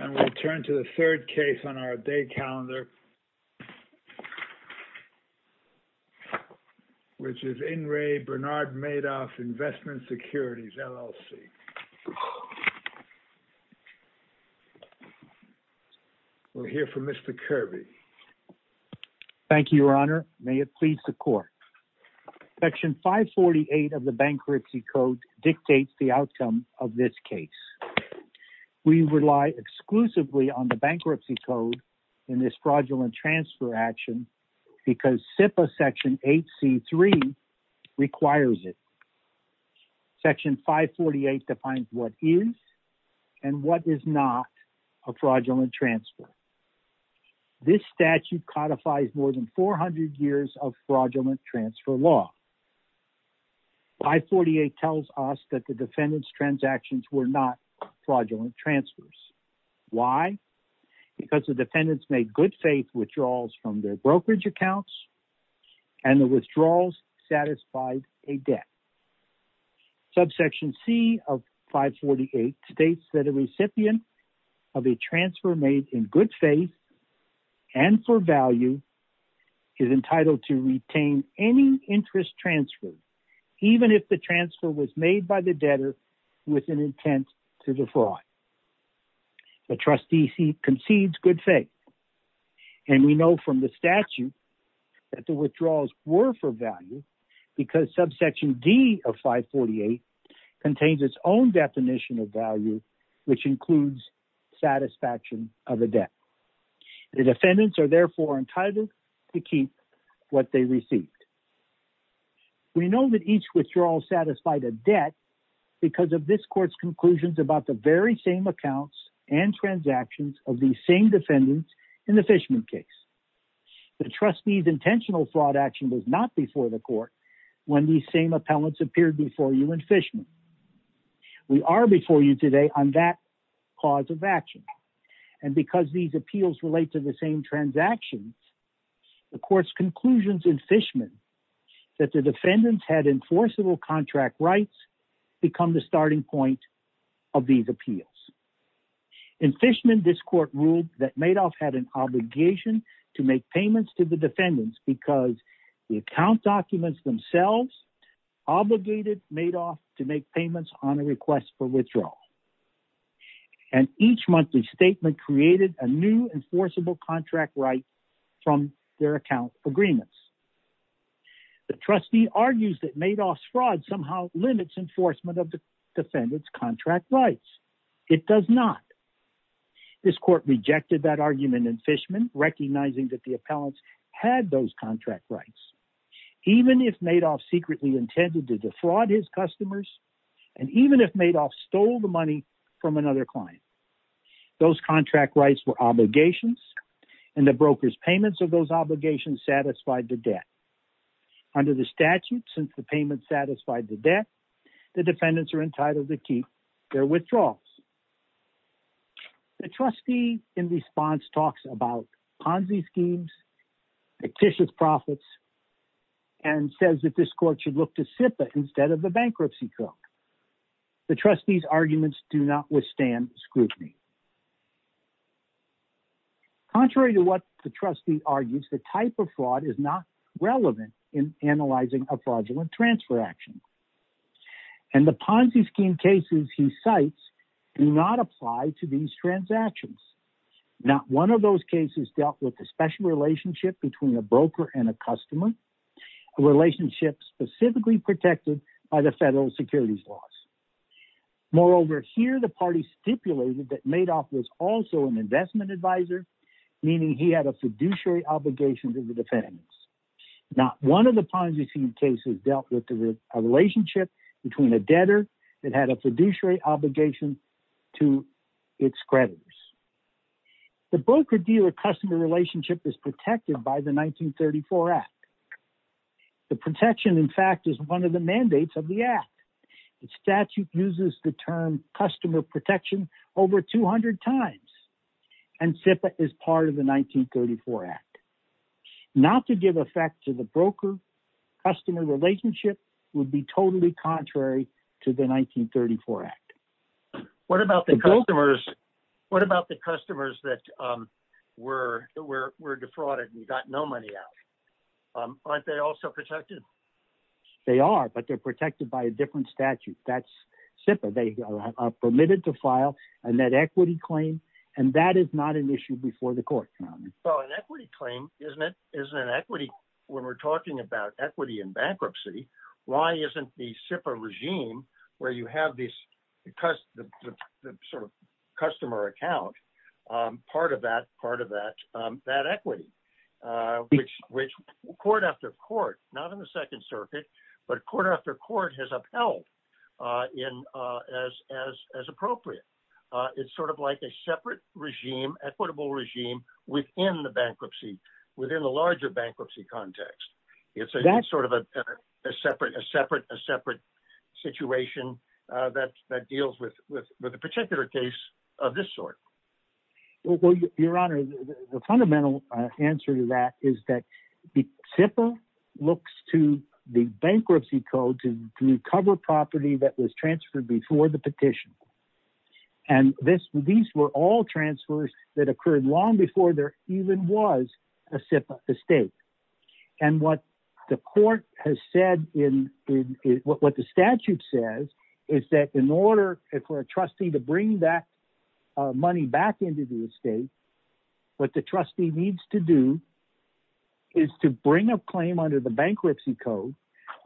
And we turn to the third case on our day calendar, which is In Re. Bernard Madoff Investment Securities, LLC. We'll hear from Mr. Kirby. Thank you, Your Honor. May it please the Court. Section 548 of the Bankruptcy Code dictates the outcome of this case. We rely exclusively on the Bankruptcy Code in this fraudulent transfer action because SIPA Section 8C3 requires it. Section 548 defines what is and what is not a fraudulent transfer. This statute codifies more than 400 years of fraudulent transfer law. 548 tells us that the defendant's transactions were not fraudulent transfers. Why? Because the defendants made good faith withdrawals from their brokerage accounts and the withdrawals satisfied a debt. Subsection C of 548 states that a recipient of a transfer made in good faith and for value is entitled to retain any interest transferred, even if the transfer was made by the debtor with an intent to defraud. The trustee concedes good faith, and we know from the statute that the withdrawals were for value because subsection D of 548 contains its own definition of value, which includes satisfaction of a debt. The defendants are therefore entitled to keep what they received. We know that each withdrawal satisfied a debt because of this court's conclusions about the very same accounts and transactions of these same defendants in the Fishman case. The trustee's intentional fraud action was not before the court when these same appellants appeared before you in Fishman. We are before you today on that cause of action, and because these appeals relate to the same transactions, the court's conclusions in Fishman that the defendants had enforceable contract rights become the starting point of these appeals. In Fishman, this court ruled that Madoff had an obligation to make payments to the defendants because the account documents themselves obligated Madoff to make payments on a request for withdrawal. And each monthly statement created a new enforceable contract right from their account agreements. The trustee argues that Madoff's fraud somehow limits enforcement of the defendants' contract rights. It does not. This court rejected that argument in Fishman, recognizing that the appellants had those contract rights, even if Madoff secretly intended to defraud his customers, and even if Madoff stole the money from another client. Those contract rights were obligations, and the broker's payments of those obligations satisfied the debt. Under the statute, since the payment satisfied the debt, the defendants are entitled to keep their withdrawals. The trustee in response talks about Ponzi schemes, fictitious profits, and says that this court should look to SIPA instead of the bankruptcy court. The trustee's arguments do not withstand scrutiny. Contrary to what the trustee argues, the type of fraud is not relevant in analyzing a fraudulent transfer action. And the Ponzi scheme cases he cites do not apply to these transactions. Not one of those cases dealt with a special relationship between a broker and a customer, a relationship specifically protected by the federal securities laws. Moreover, here the party stipulated that Madoff was also an investment advisor, meaning he had a fiduciary obligation to the defendants. Not one of the Ponzi scheme cases dealt with a relationship between a debtor that had a fiduciary obligation to its creditors. The broker-dealer-customer relationship is protected by the 1934 Act. The protection, in fact, is one of the mandates of the Act. The statute uses the term customer protection over 200 times, and SIPA is part of the 1934 Act. Not to give effect to the broker-customer relationship would be totally contrary to the 1934 Act. What about the customers that were defrauded and got no money out? Aren't they also protected? They are, but they're protected by a different statute. That's SIPA. They are permitted to file a net equity claim, and that is not an issue before the court. An equity claim isn't an equity when we're talking about equity in bankruptcy. Why isn't the SIPA regime, where you have this customer account, part of that equity? Court after court, not in the Second Circuit, but court after court has upheld as appropriate. It's sort of like a separate regime, equitable regime, within the bankruptcy, within the larger bankruptcy context. It's sort of a separate situation that deals with a particular case of this sort. Well, Your Honor, the fundamental answer to that is that SIPA looks to the bankruptcy code to recover property that was transferred before the petition. These were all transfers that occurred long before there even was a SIPA estate. What the court has said, what the statute says, is that in order for a trustee to bring that money back into the estate, what the trustee needs to do is to bring a claim under the bankruptcy code,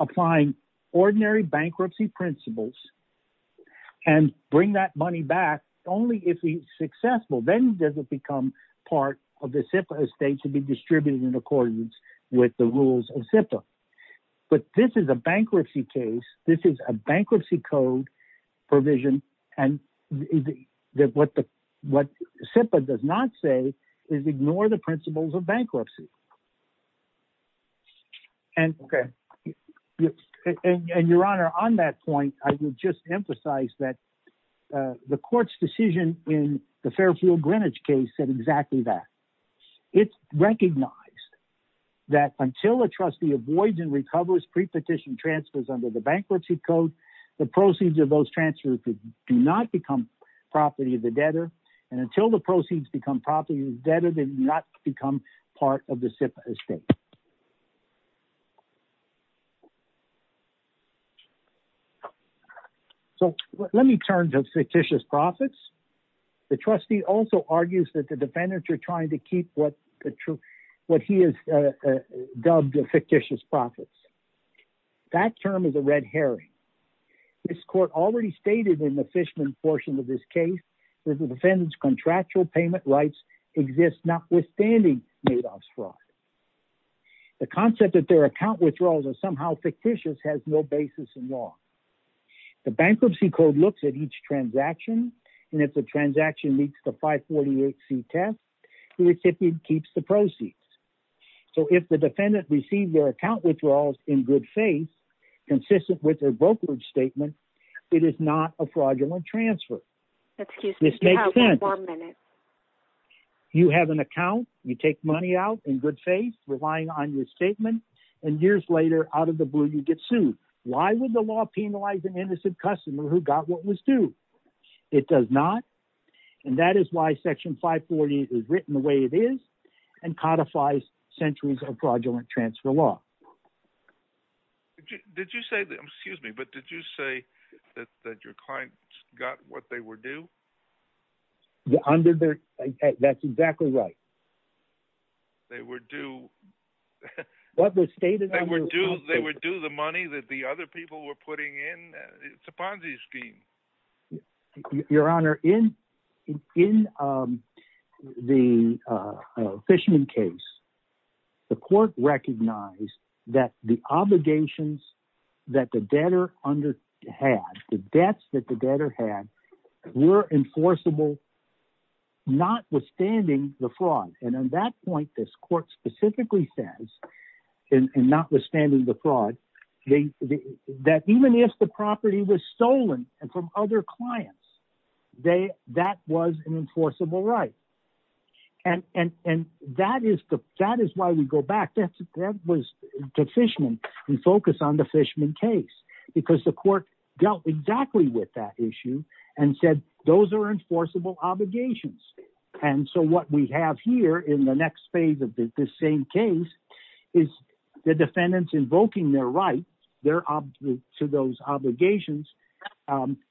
applying ordinary bankruptcy principles, and bring that money back. Only if it's successful, then does it become part of the SIPA estate to be distributed in accordance with the rules of SIPA. But this is a bankruptcy case. This is a bankruptcy code provision, and what SIPA does not say is ignore the principles of bankruptcy. And Your Honor, on that point, I would just emphasize that the court's decision in the Fairfield Greenwich case said exactly that. It recognized that until a trustee avoids and recovers pre-petition transfers under the bankruptcy code, the proceeds of those transfers do not become property of the debtor, and until the proceeds become property of the debtor, they do not become part of the SIPA estate. So let me turn to fictitious profits. The trustee also argues that the defendants are trying to keep what he has dubbed fictitious profits. That term is a red herring. This court already stated in the Fishman portion of this case that the defendant's contractual payment rights exist notwithstanding Madoff's fraud. The concept that their account withdrawals are somehow fictitious has no basis in law. The bankruptcy code looks at each transaction, and if the transaction meets the 548C test, the recipient keeps the proceeds. So if the defendant received their account withdrawals in good faith, consistent with their brokerage statement, it is not a fraudulent transfer. This makes sense. You have an account, you take money out in good faith, relying on your statement, and years later, out of the blue, you get sued. Why would the law penalize an innocent customer who got what was due? It does not. And that is why Section 540 is written the way it is, and codifies centuries of fraudulent transfer law. Excuse me, but did you say that your client got what they were due? That's exactly right. They were due the money that the other people were putting in? It's a Ponzi scheme. Your Honor, in the Fishman case, the court recognized that the obligations that the debtor had, the debts that the debtor had, were enforceable, notwithstanding the fraud. And on that point, this court specifically says, and notwithstanding the fraud, that even if the property was stolen from other clients, that was an enforceable right. And that is why we go back, that was the Fishman, we focus on the Fishman case, because the court dealt exactly with that issue, and said, those are enforceable obligations. And so what we have here, in the next phase of this same case, is the defendants invoking their rights to those obligations,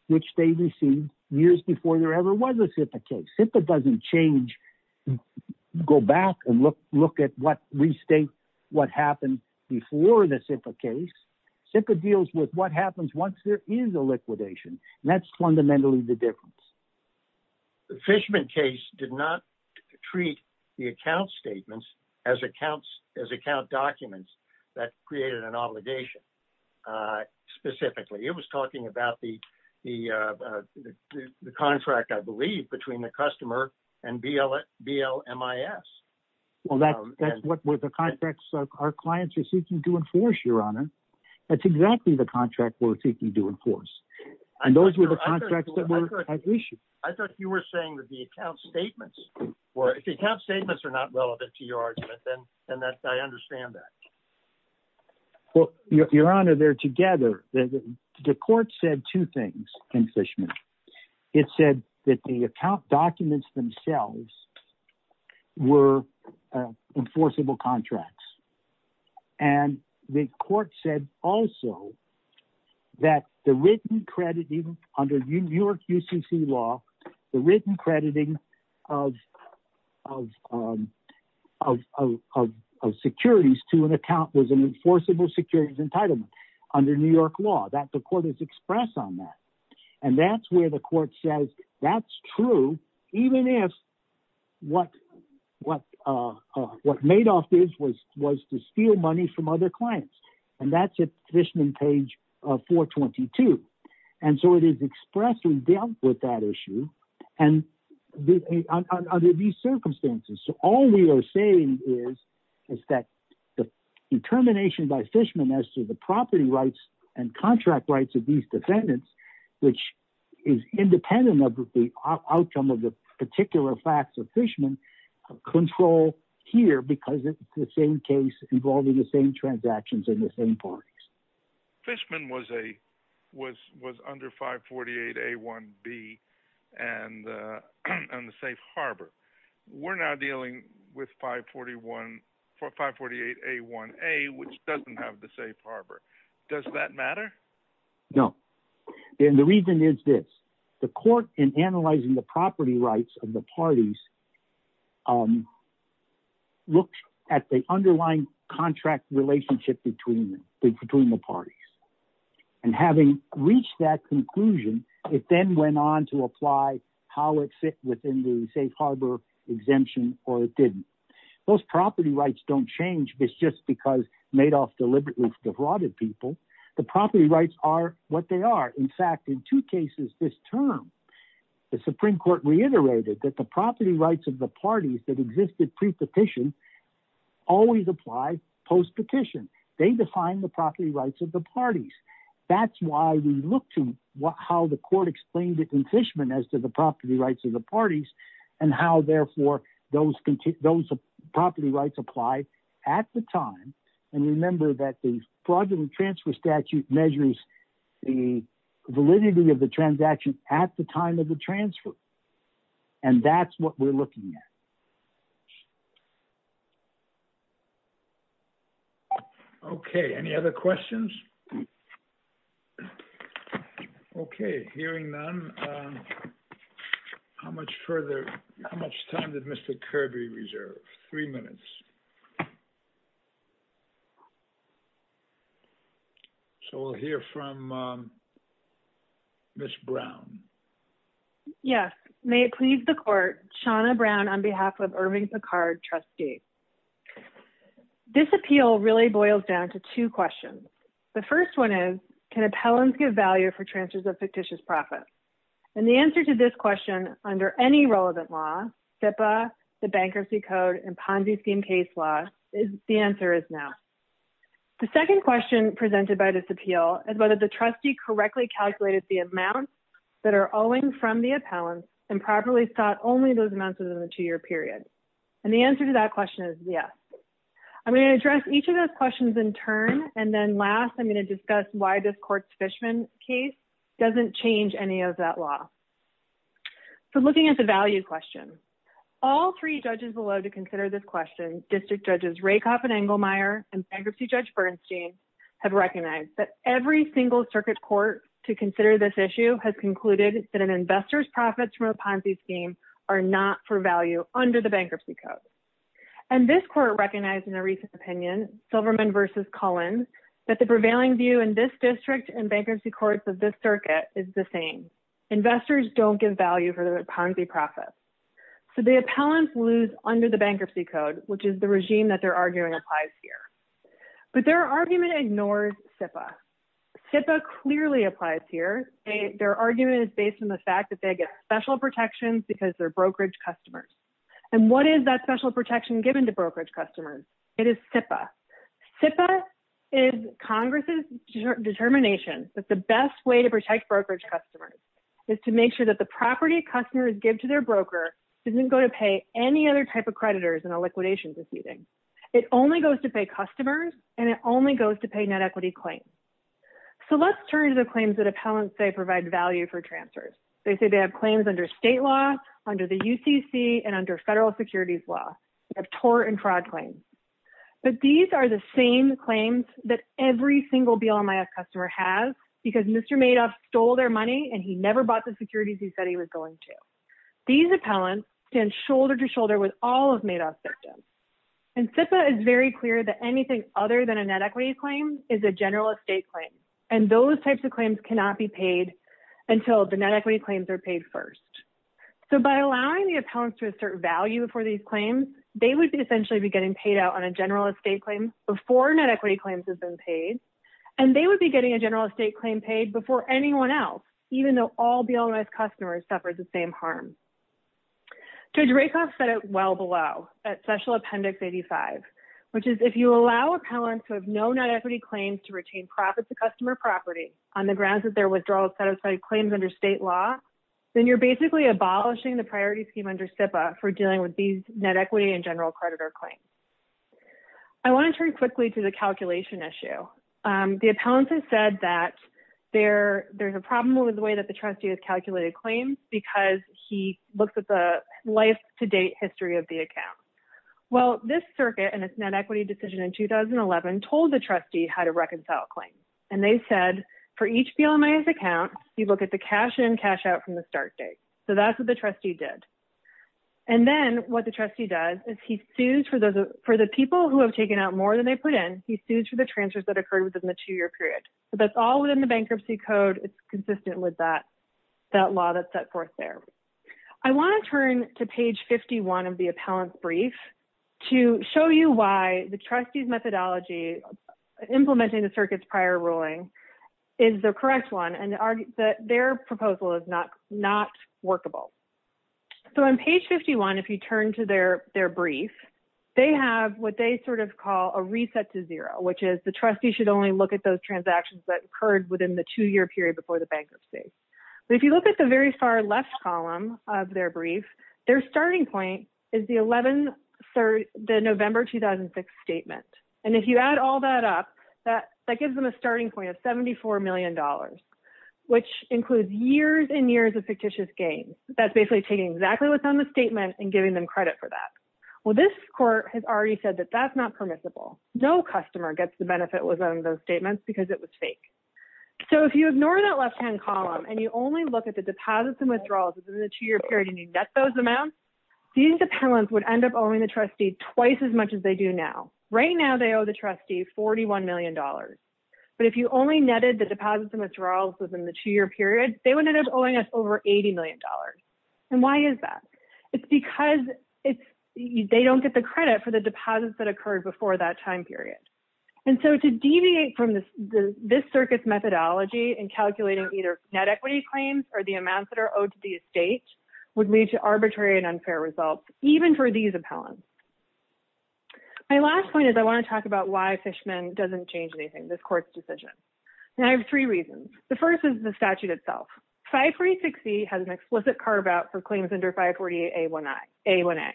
which they received years before there ever was a SIPA case. SIPA doesn't change, go back and restate what happened before the SIPA case, SIPA deals with what happens once there is a liquidation, and that's fundamentally the difference. The Fishman case did not treat the account statements as account documents that created an obligation, specifically. It was talking about the contract, I believe, between the customer and BLMIS. Well, that's what the contracts our clients are seeking to enforce, your honor. That's exactly the contract we're seeking to enforce. And those were the contracts that were at issue. I thought you were saying that the account statements, or if the account statements are not relevant to your argument, then I understand that. Well, your honor, they're together. The court said two things in Fishman. It said that the account documents themselves were enforceable contracts. And the court said also that the written crediting under New York UCC law, the written crediting of securities to an account was an enforceable securities entitlement under New York law. The court has expressed on that. And that's where the court says that's true, even if what Madoff did was to steal money from other clients. And that's at Fishman page 422. And so it is expressly dealt with that issue under these circumstances. So all we are saying is that the determination by Fishman as to the property rights and contract rights of these defendants, which is independent of the outcome of the particular facts of Fishman, control here because it's the same case involving the same transactions in the same parties. Fishman was under 548A1B and the safe harbor. We're now dealing with 548A1A, which doesn't have the safe harbor. Does that matter? No. And the reason is this. The court, in analyzing the property rights of the parties, looked at the underlying contract relationship between the parties. And having reached that conclusion, it then went on to apply how it fit within the safe harbor exemption or it didn't. Those property rights don't change just because Madoff deliberately defrauded people. The property rights are what they are. In fact, in two cases this term, the Supreme Court reiterated that the property rights of the parties that existed pre-petition always apply post-petition. They define the property rights of the parties. That's why we look to how the court explained it in Fishman as to the property rights of the parties and how, therefore, those property rights apply at the time. And remember that the fraudulent transfer statute measures the validity of the transaction at the time of the transfer. And that's what we're looking at. Okay. Any other questions? Okay. Hearing none, how much time did Mr. Kirby reserve? Three minutes. So we'll hear from Ms. Brown. Yes. May it please the court, Shawna Brown on behalf of Irving Picard, trustee. This appeal really boils down to two questions. The first one is, can appellants give value for transfers of fictitious profits? And the answer to this question under any relevant law, SIPA, the Bankruptcy Code, and Ponzi scheme case law, the answer is no. The second question presented by this appeal is whether the trustee correctly calculated the amount that are owing from the appellant and properly sought only those amounts within the two-year period. And the answer to that question is yes. I'm going to address each of those questions in turn, and then last, I'm going to discuss why this court's Fishman case doesn't change any of that law. So looking at the value question. All three judges will love to consider this question. District Judges Rakoff and Engelmeyer and Bankruptcy Judge Bernstein have recognized that every single circuit court to consider this issue has concluded that an investor's profits from a Ponzi scheme are not for value under the Bankruptcy Code. And this court recognized in a recent opinion, Silverman v. Cullen, that the prevailing view in this district and bankruptcy courts of this circuit is the same. Investors don't give value for their Ponzi profits. So the appellants lose under the Bankruptcy Code, which is the regime that they're arguing applies here. But their argument ignores SIPA. SIPA clearly applies here. Their argument is based on the fact that they get special protections because they're brokerage customers. And what is that special protection given to brokerage customers? It is SIPA. SIPA is Congress's determination that the best way to protect brokerage customers is to make sure that the property customers give to their broker doesn't go to pay any other type of creditors in a liquidation proceeding. It only goes to pay customers, and it only goes to pay net equity claims. So let's turn to the claims that appellants say provide value for transfers. They say they have claims under state law, under the UCC, and under federal securities law. They have tort and fraud claims. But these are the same claims that every single BLMIS customer has because Mr. Madoff stole their money and he never bought the securities he said he was going to. These appellants stand shoulder to shoulder with all of Madoff's victims. And SIPA is very clear that anything other than a net equity claim is a general estate claim, and those types of claims cannot be paid until the net equity claims are paid first. So by allowing the appellants to assert value for these claims, they would essentially be getting paid out on a general estate claim before net equity claims have been paid, and they would be getting a general estate claim paid before anyone else, even though all BLMIS customers suffered the same harm. Judge Rakoff said it well below, at Special Appendix 85, which is if you allow appellants who have no net equity claims to retain profits of customer property on the grounds that their withdrawal satisfied claims under state law, then you're basically abolishing the priority scheme under SIPA for dealing with these net equity and general creditor claims. I want to turn quickly to the calculation issue. The appellants have said that there's a problem with the way that the trustee has calculated claims because he looks at the life-to-date history of the account. Well, this circuit and its net equity decision in 2011 told the trustee how to reconcile claims, and they said for each BLMIS account, you look at the cash-in, cash-out from the start date. So that's what the trustee did. And then what the trustee does is he sues for the people who have taken out more than they put in, he sues for the transfers that occurred within the two-year period. So that's all within the bankruptcy code. It's consistent with that law that's set forth there. I want to turn to page 51 of the appellant's brief to show you why the trustee's methodology implementing the circuit's prior ruling is the correct one and that their proposal is not workable. So on page 51, if you turn to their brief, they have what they sort of call a reset to transactions that occurred within the two-year period before the bankruptcy. But if you look at the very far left column of their brief, their starting point is the November 2006 statement. And if you add all that up, that gives them a starting point of $74 million, which includes years and years of fictitious gains. That's basically taking exactly what's on the statement and giving them credit for that. Well, this court has already said that that's not permissible. No customer gets the benefit within those statements because it was fake. So if you ignore that left-hand column and you only look at the deposits and withdrawals within the two-year period and you net those amounts, these appellants would end up owing the trustee twice as much as they do now. Right now, they owe the trustee $41 million. But if you only netted the deposits and withdrawals within the two-year period, they would end up owing us over $80 million. And why is that? It's because they don't get the credit for the deposits that occurred before that time period. And so to deviate from this circuit's methodology in calculating either net equity claims or the amounts that are owed to the estate would lead to arbitrary and unfair results, even for these appellants. My last point is I want to talk about why Fishman doesn't change anything, this court's decision. And I have three reasons. The first is the statute itself. 536E has an explicit carve-out for claims under 548A1A.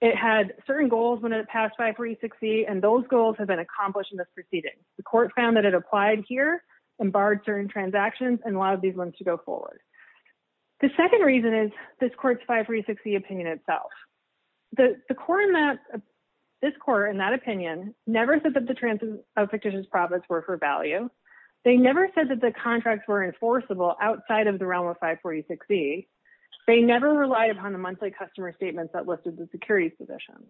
It had certain goals when it passed 536E, and those goals have been accomplished in this proceeding. The court found that it applied here and barred certain transactions and allowed these ones to go forward. The second reason is this court's 536E opinion itself. This court, in that opinion, never said that the transfer of fictitious profits were for value. They never said that the contracts were enforceable outside of the realm of 546E. They never relied upon the monthly customer statements that listed the securities position.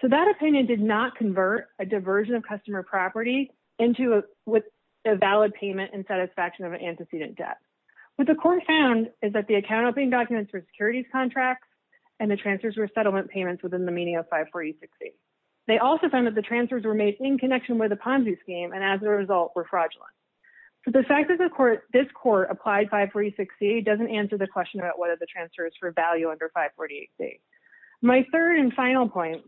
So that opinion did not convert a diversion of customer property into a valid payment in satisfaction of an antecedent debt. What the court found is that the account-opening documents were securities contracts and the transfers were settlement payments within the meaning of 546E. They also found that the transfers were made in connection with a Ponzi scheme and, as a result, were fraudulent. So the fact that this court applied 546E doesn't answer the question about whether the transfer is for value under 548C. My third and final point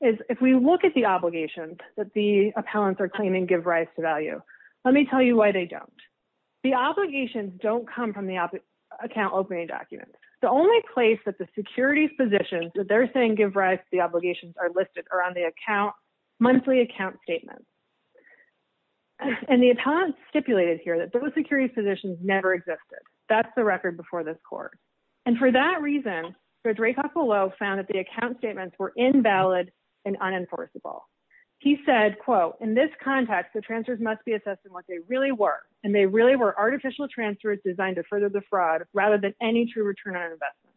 is if we look at the obligations that the appellants are claiming give rise to value, let me tell you why they don't. The obligations don't come from the account-opening documents. The only place that the securities positions that they're saying give rise to the obligations are listed are on the monthly account statements. And the appellants stipulated here that those securities positions never existed. That's the record before this court. And for that reason, Judge Rakoff-Below found that the account statements were invalid and unenforceable. He said, quote, in this context, the transfers must be assessed in what they really were, and they really were artificial transfers designed to further the fraud rather than any true return on investment.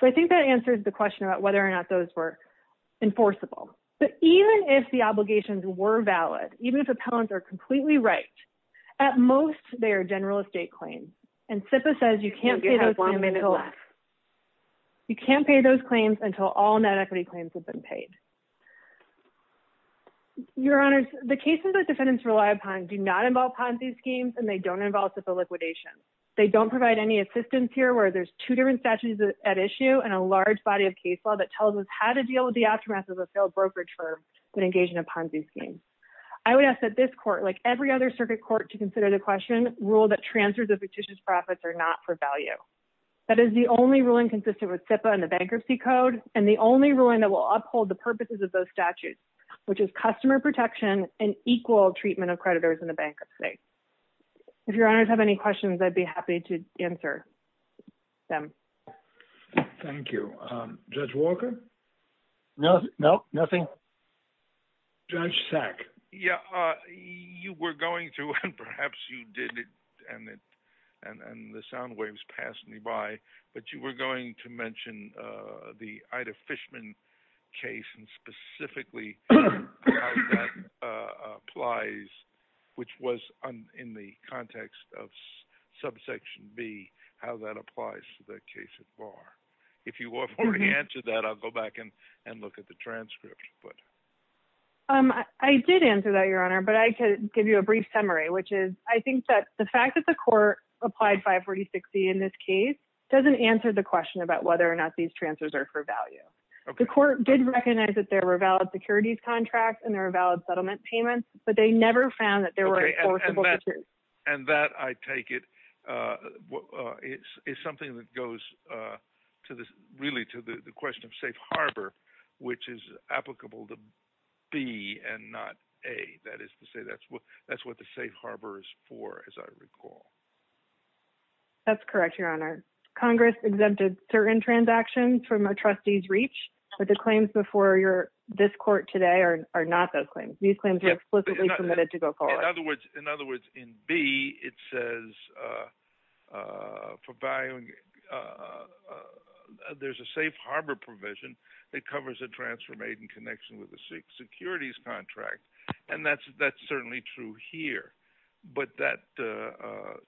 So I think that answers the question about whether or not those were enforceable. But even if the obligations were valid, even if appellants are completely right, at most they are general estate claims. And SIPA says you can't pay those claims until all net equity claims have been paid. Your Honors, the cases that defendants rely upon do not involve Ponzi schemes, and they don't involve SIPA liquidation. They don't provide any assistance here where there's two different statutes at issue and a large body of case law that tells us how to deal with the aftermath of a failed brokerage firm that engaged in a Ponzi scheme. I would ask that this court, like every other circuit court to consider the question, rule that transfers of fictitious profits are not for value. That is the only ruling consistent with SIPA and the Bankruptcy Code, and the only ruling that will uphold the purposes of those statutes, which is customer protection and equal treatment of creditors in the bankruptcy. If Your Honors have any questions, I'd be happy to answer them. Thank you. Judge Walker? No, no, nothing. Judge Sack? Yeah, you were going to, and perhaps you didn't, and the sound waves passed me by, but you were going to mention the Ida Fishman case and specifically how that applies, which was in the context of subsection B, how that applies to the case of Barr. If you want me to answer that, I'll go back and look at the transcript. I did answer that, Your Honor, but I could give you a brief summary, which is I think that the fact that the court applied 546E in this case doesn't answer the question about whether or not these transfers are for value. The court did recognize that there were valid securities contracts and there were valid settlement payments, but they never found that there were enforceable statutes. And that, I take it, is something that goes really to the question of safe harbor, which is applicable to B and not A. That is to say that's what the safe harbor is for, as I recall. That's correct, Your Honor. Congress exempted certain transactions from a trustee's reach, but the claims before this court today are not those claims. These claims were explicitly permitted to go forward. In other words, in B, it says for value, there's a safe harbor provision that covers a transfer made in connection with a securities contract, and that's certainly true here. But that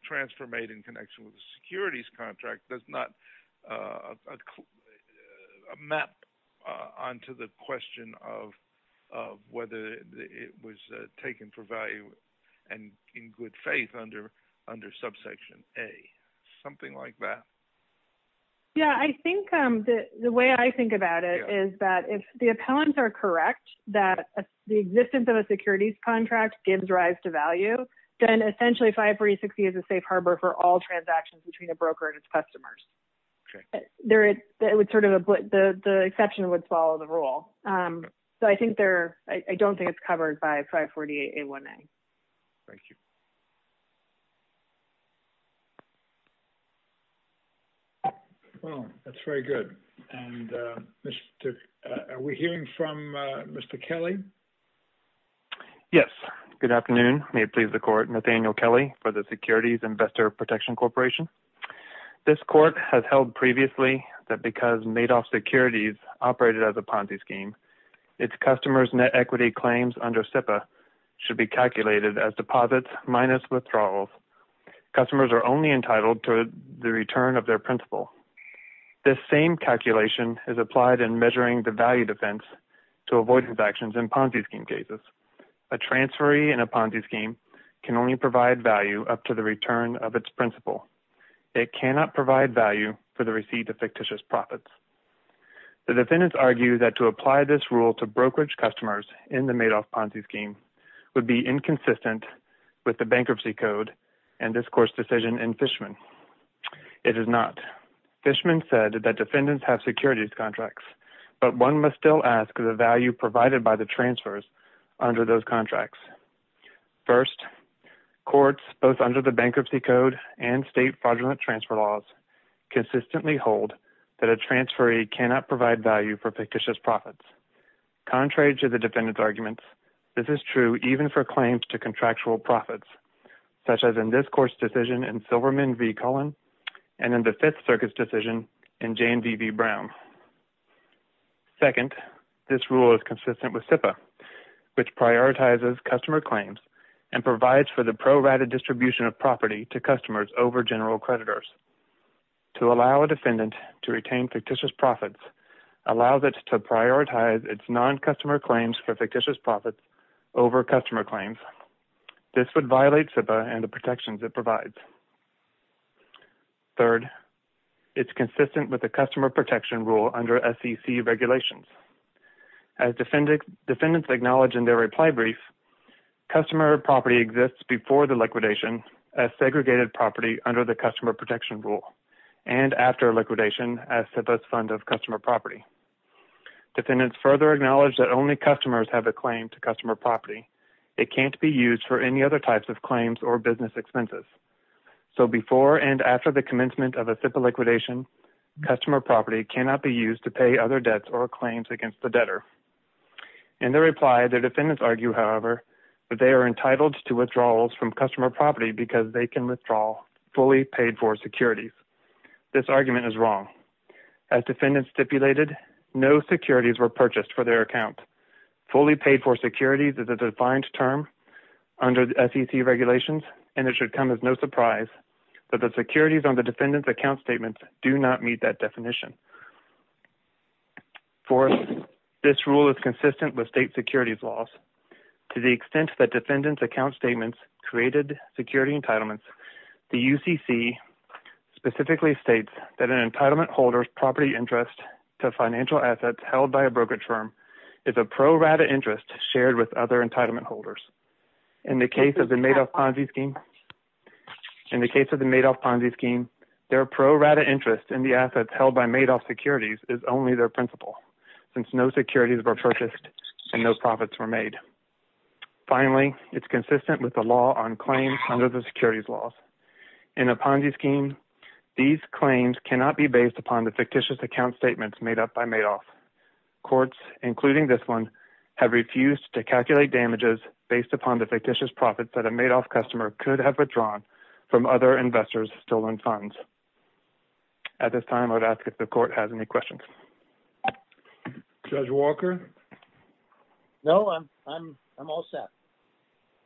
transfer made in connection with a securities contract does not map onto the in good faith under subsection A. Something like that? Yeah, I think the way I think about it is that if the appellants are correct, that the existence of a securities contract gives rise to value, then essentially 546E is a safe harbor for all transactions between a broker and its customers. The exception would follow the rule. So I don't think it's covered by 548A1A. Thank you. Well, that's very good. And are we hearing from Mr. Kelly? Yes. Good afternoon. May it please the court. Nathaniel Kelly for the Securities Investor Protection Corporation. This court has held previously that because Madoff Securities operated as a Ponzi scheme, its customers' net equity claims under SIPA should be calculated as deposits minus withdrawals. Customers are only entitled to the return of their principal. This same calculation is applied in measuring the value defense to avoid transactions in Ponzi scheme cases. A transferee in a Ponzi scheme can only provide value up to the return of its principal. It cannot provide value for the receipt of fictitious profits. The defendants argue that to apply this rule to brokerage customers in the Madoff Ponzi scheme would be inconsistent with the bankruptcy code and this court's decision in Fishman. It is not. Fishman said that defendants have securities contracts, but one must still ask the value provided by the transfers under those contracts. First, courts, both under the bankruptcy code and state fraudulent transfer laws, consistently hold that a transferee cannot provide value for fictitious profits. Contrary to the defendants' arguments, this is true even for claims to contractual profits, such as in this court's decision in Silverman v. Cullen and in the Fifth Circuit's decision in Jane v. Brown. Second, this rule is consistent with SIPA, which prioritizes customer claims and provides for the pro-rata distribution of property to customers over general creditors. To allow a defendant to retain fictitious profits allows it to prioritize its non-customer claims for fictitious profits over customer claims. This would violate SIPA and the protections it provides. Third, it's consistent with the customer protection rule under SEC regulations. As defendants acknowledge in their reply brief, customer property exists before the liquidation as segregated property under the customer protection rule, and after liquidation as SIPA's fund of customer property. Defendants further acknowledge that only customers have a claim to customer property. It can't be used for any other types of claims or business expenses. So before and after the commencement of a SIPA liquidation, customer property cannot be used to pay other debts or claims against the debtor. In their reply, their defendants argue, however, that they are entitled to withdrawals from customer property because they can withdraw fully paid-for securities. This argument is wrong. As defendants stipulated, no securities were purchased for their account. Fully paid-for securities is a defined term under SEC regulations, and it should come as no surprise that the securities on the defendant's account statements do not meet that definition. Fourth, this rule is consistent with state securities laws. To the extent that defendants' account statements created security entitlements, the UCC specifically states that an entitlement holder's property interest to financial assets held by a brokerage firm is a pro rata interest shared with other entitlement holders. In the case of the Madoff Ponzi scheme, their pro rata interest in the assets held by Madoff securities is only their principal, since no securities were purchased and no profits were made. Finally, it's consistent with the law on claims under the securities laws. In a Ponzi scheme, these claims cannot be based upon the fictitious account statements made up by Madoff. Courts, including this one, have refused to calculate damages based upon the fictitious profits that a Madoff customer could have withdrawn from other investors' stolen funds. At this time, I would ask if the court has any questions. Judge Walker? No, I'm all set.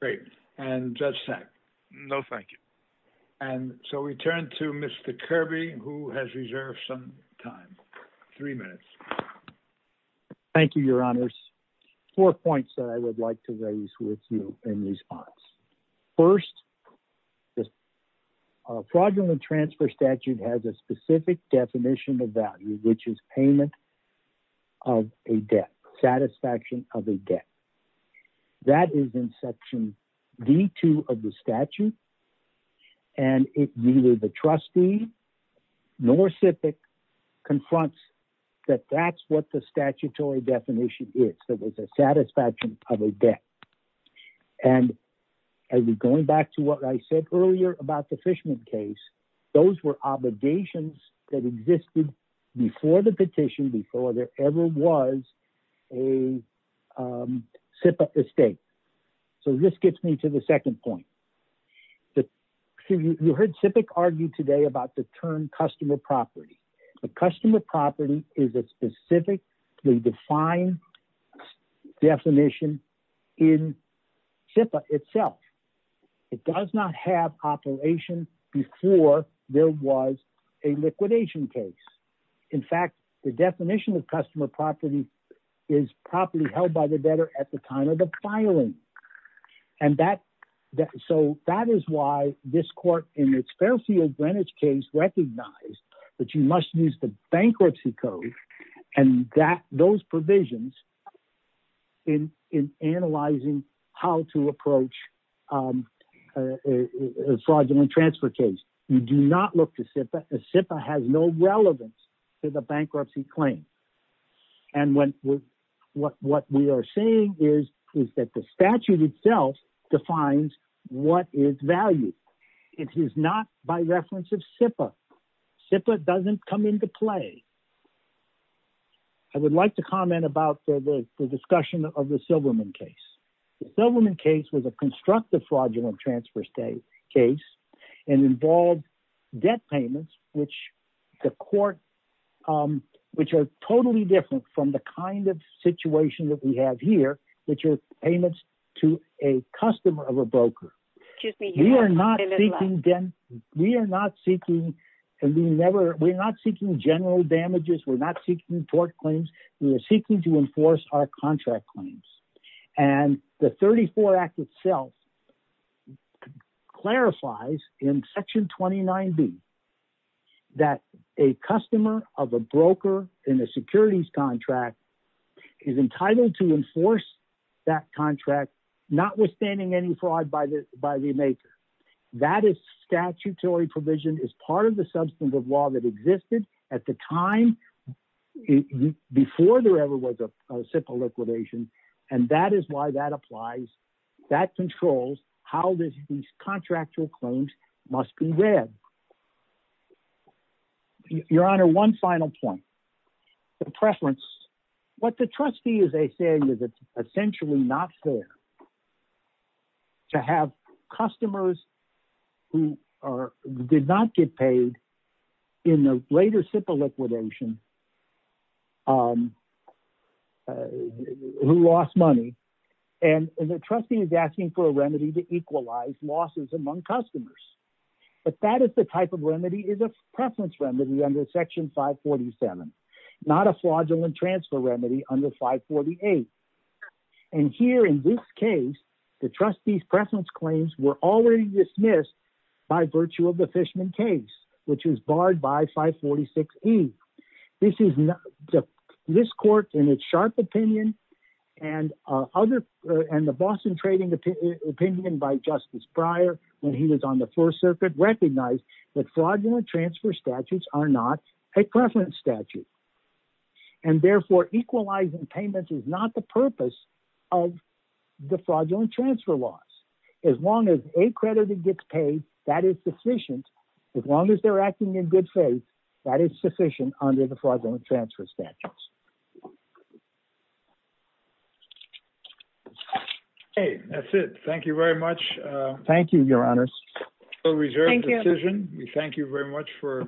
Great. And Judge Sack? No, thank you. And so we turn to Mr. Kirby, who has reserved some time. Three minutes. Thank you, Your Honors. Four points that I would like to raise with you in response. First, the fraudulent transfer statute has a specific definition of value, which is payment of a debt, satisfaction of a debt. That is in Section D-2 of the statute, and neither the trustee nor SIPC confronts that that's what the statutory definition is. It's a satisfaction of a debt. And going back to what I said earlier about the Fishman case, those were obligations that existed before the petition, before there ever was a SIPC estate. So this gets me to the second point. You heard SIPC argue today about the term customer property. The customer property is a specifically defined definition in SIPC itself. It does not have operation before there was a liquidation case. In fact, the definition of customer property is property held by the debtor at the time of the filing. And so that is why this court in its Fairfield Greenwich case recognized that you must use the bankruptcy code and those provisions in analyzing how to approach a fraudulent transfer case. You do not look to SIPA. SIPA has no relevance to the bankruptcy claim. And what we are saying is that the statute itself defines what is value. It is not by reference of SIPA. SIPA doesn't come into play. I would like to comment about the discussion of the Silverman case. The Silverman case was a constructive fraudulent transfer case and involved debt payments, which the court, which are totally different from the kind of situation that we have here, which are payments to a customer of a broker. We are not seeking general damages. We're not seeking tort claims. We are seeking to enforce our contract claims. And the 34 Act itself clarifies in Section 29B that a customer of a broker in a securities contract is entitled to enforce that contract, notwithstanding any fraud by the maker. That is statutory provision, is part of the substantive law that existed at the time before there ever was a SIPA liquidation. And that is why that applies. That controls how these contractual claims must be read. Your Honor, one final point. The preference. What the trustees, they say, is essentially not fair. To have customers who did not get paid in the later SIPA liquidation, who lost money. And the trustee is asking for a remedy to equalize losses among customers. But that is the type of remedy is a preference remedy under Section 547, not a fraudulent transfer remedy under 548. And here in this case, the trustees preference claims were already dismissed by virtue of the Fishman case, which was barred by 546E. This is not this court in its sharp opinion and other and the Boston trading opinion by Justice Breyer when he was on the First Circuit recognized that fraudulent transfer statutes are not a preference statute. And therefore, equalizing payments is not the purpose of the fraudulent transfer loss. As long as a creditor gets paid, that is sufficient. As long as they're acting in good faith, that is sufficient under the fraudulent transfer statutes. Hey, that's it. Thank you very much. Thank you, Your Honors. Thank you. Thank you very much for.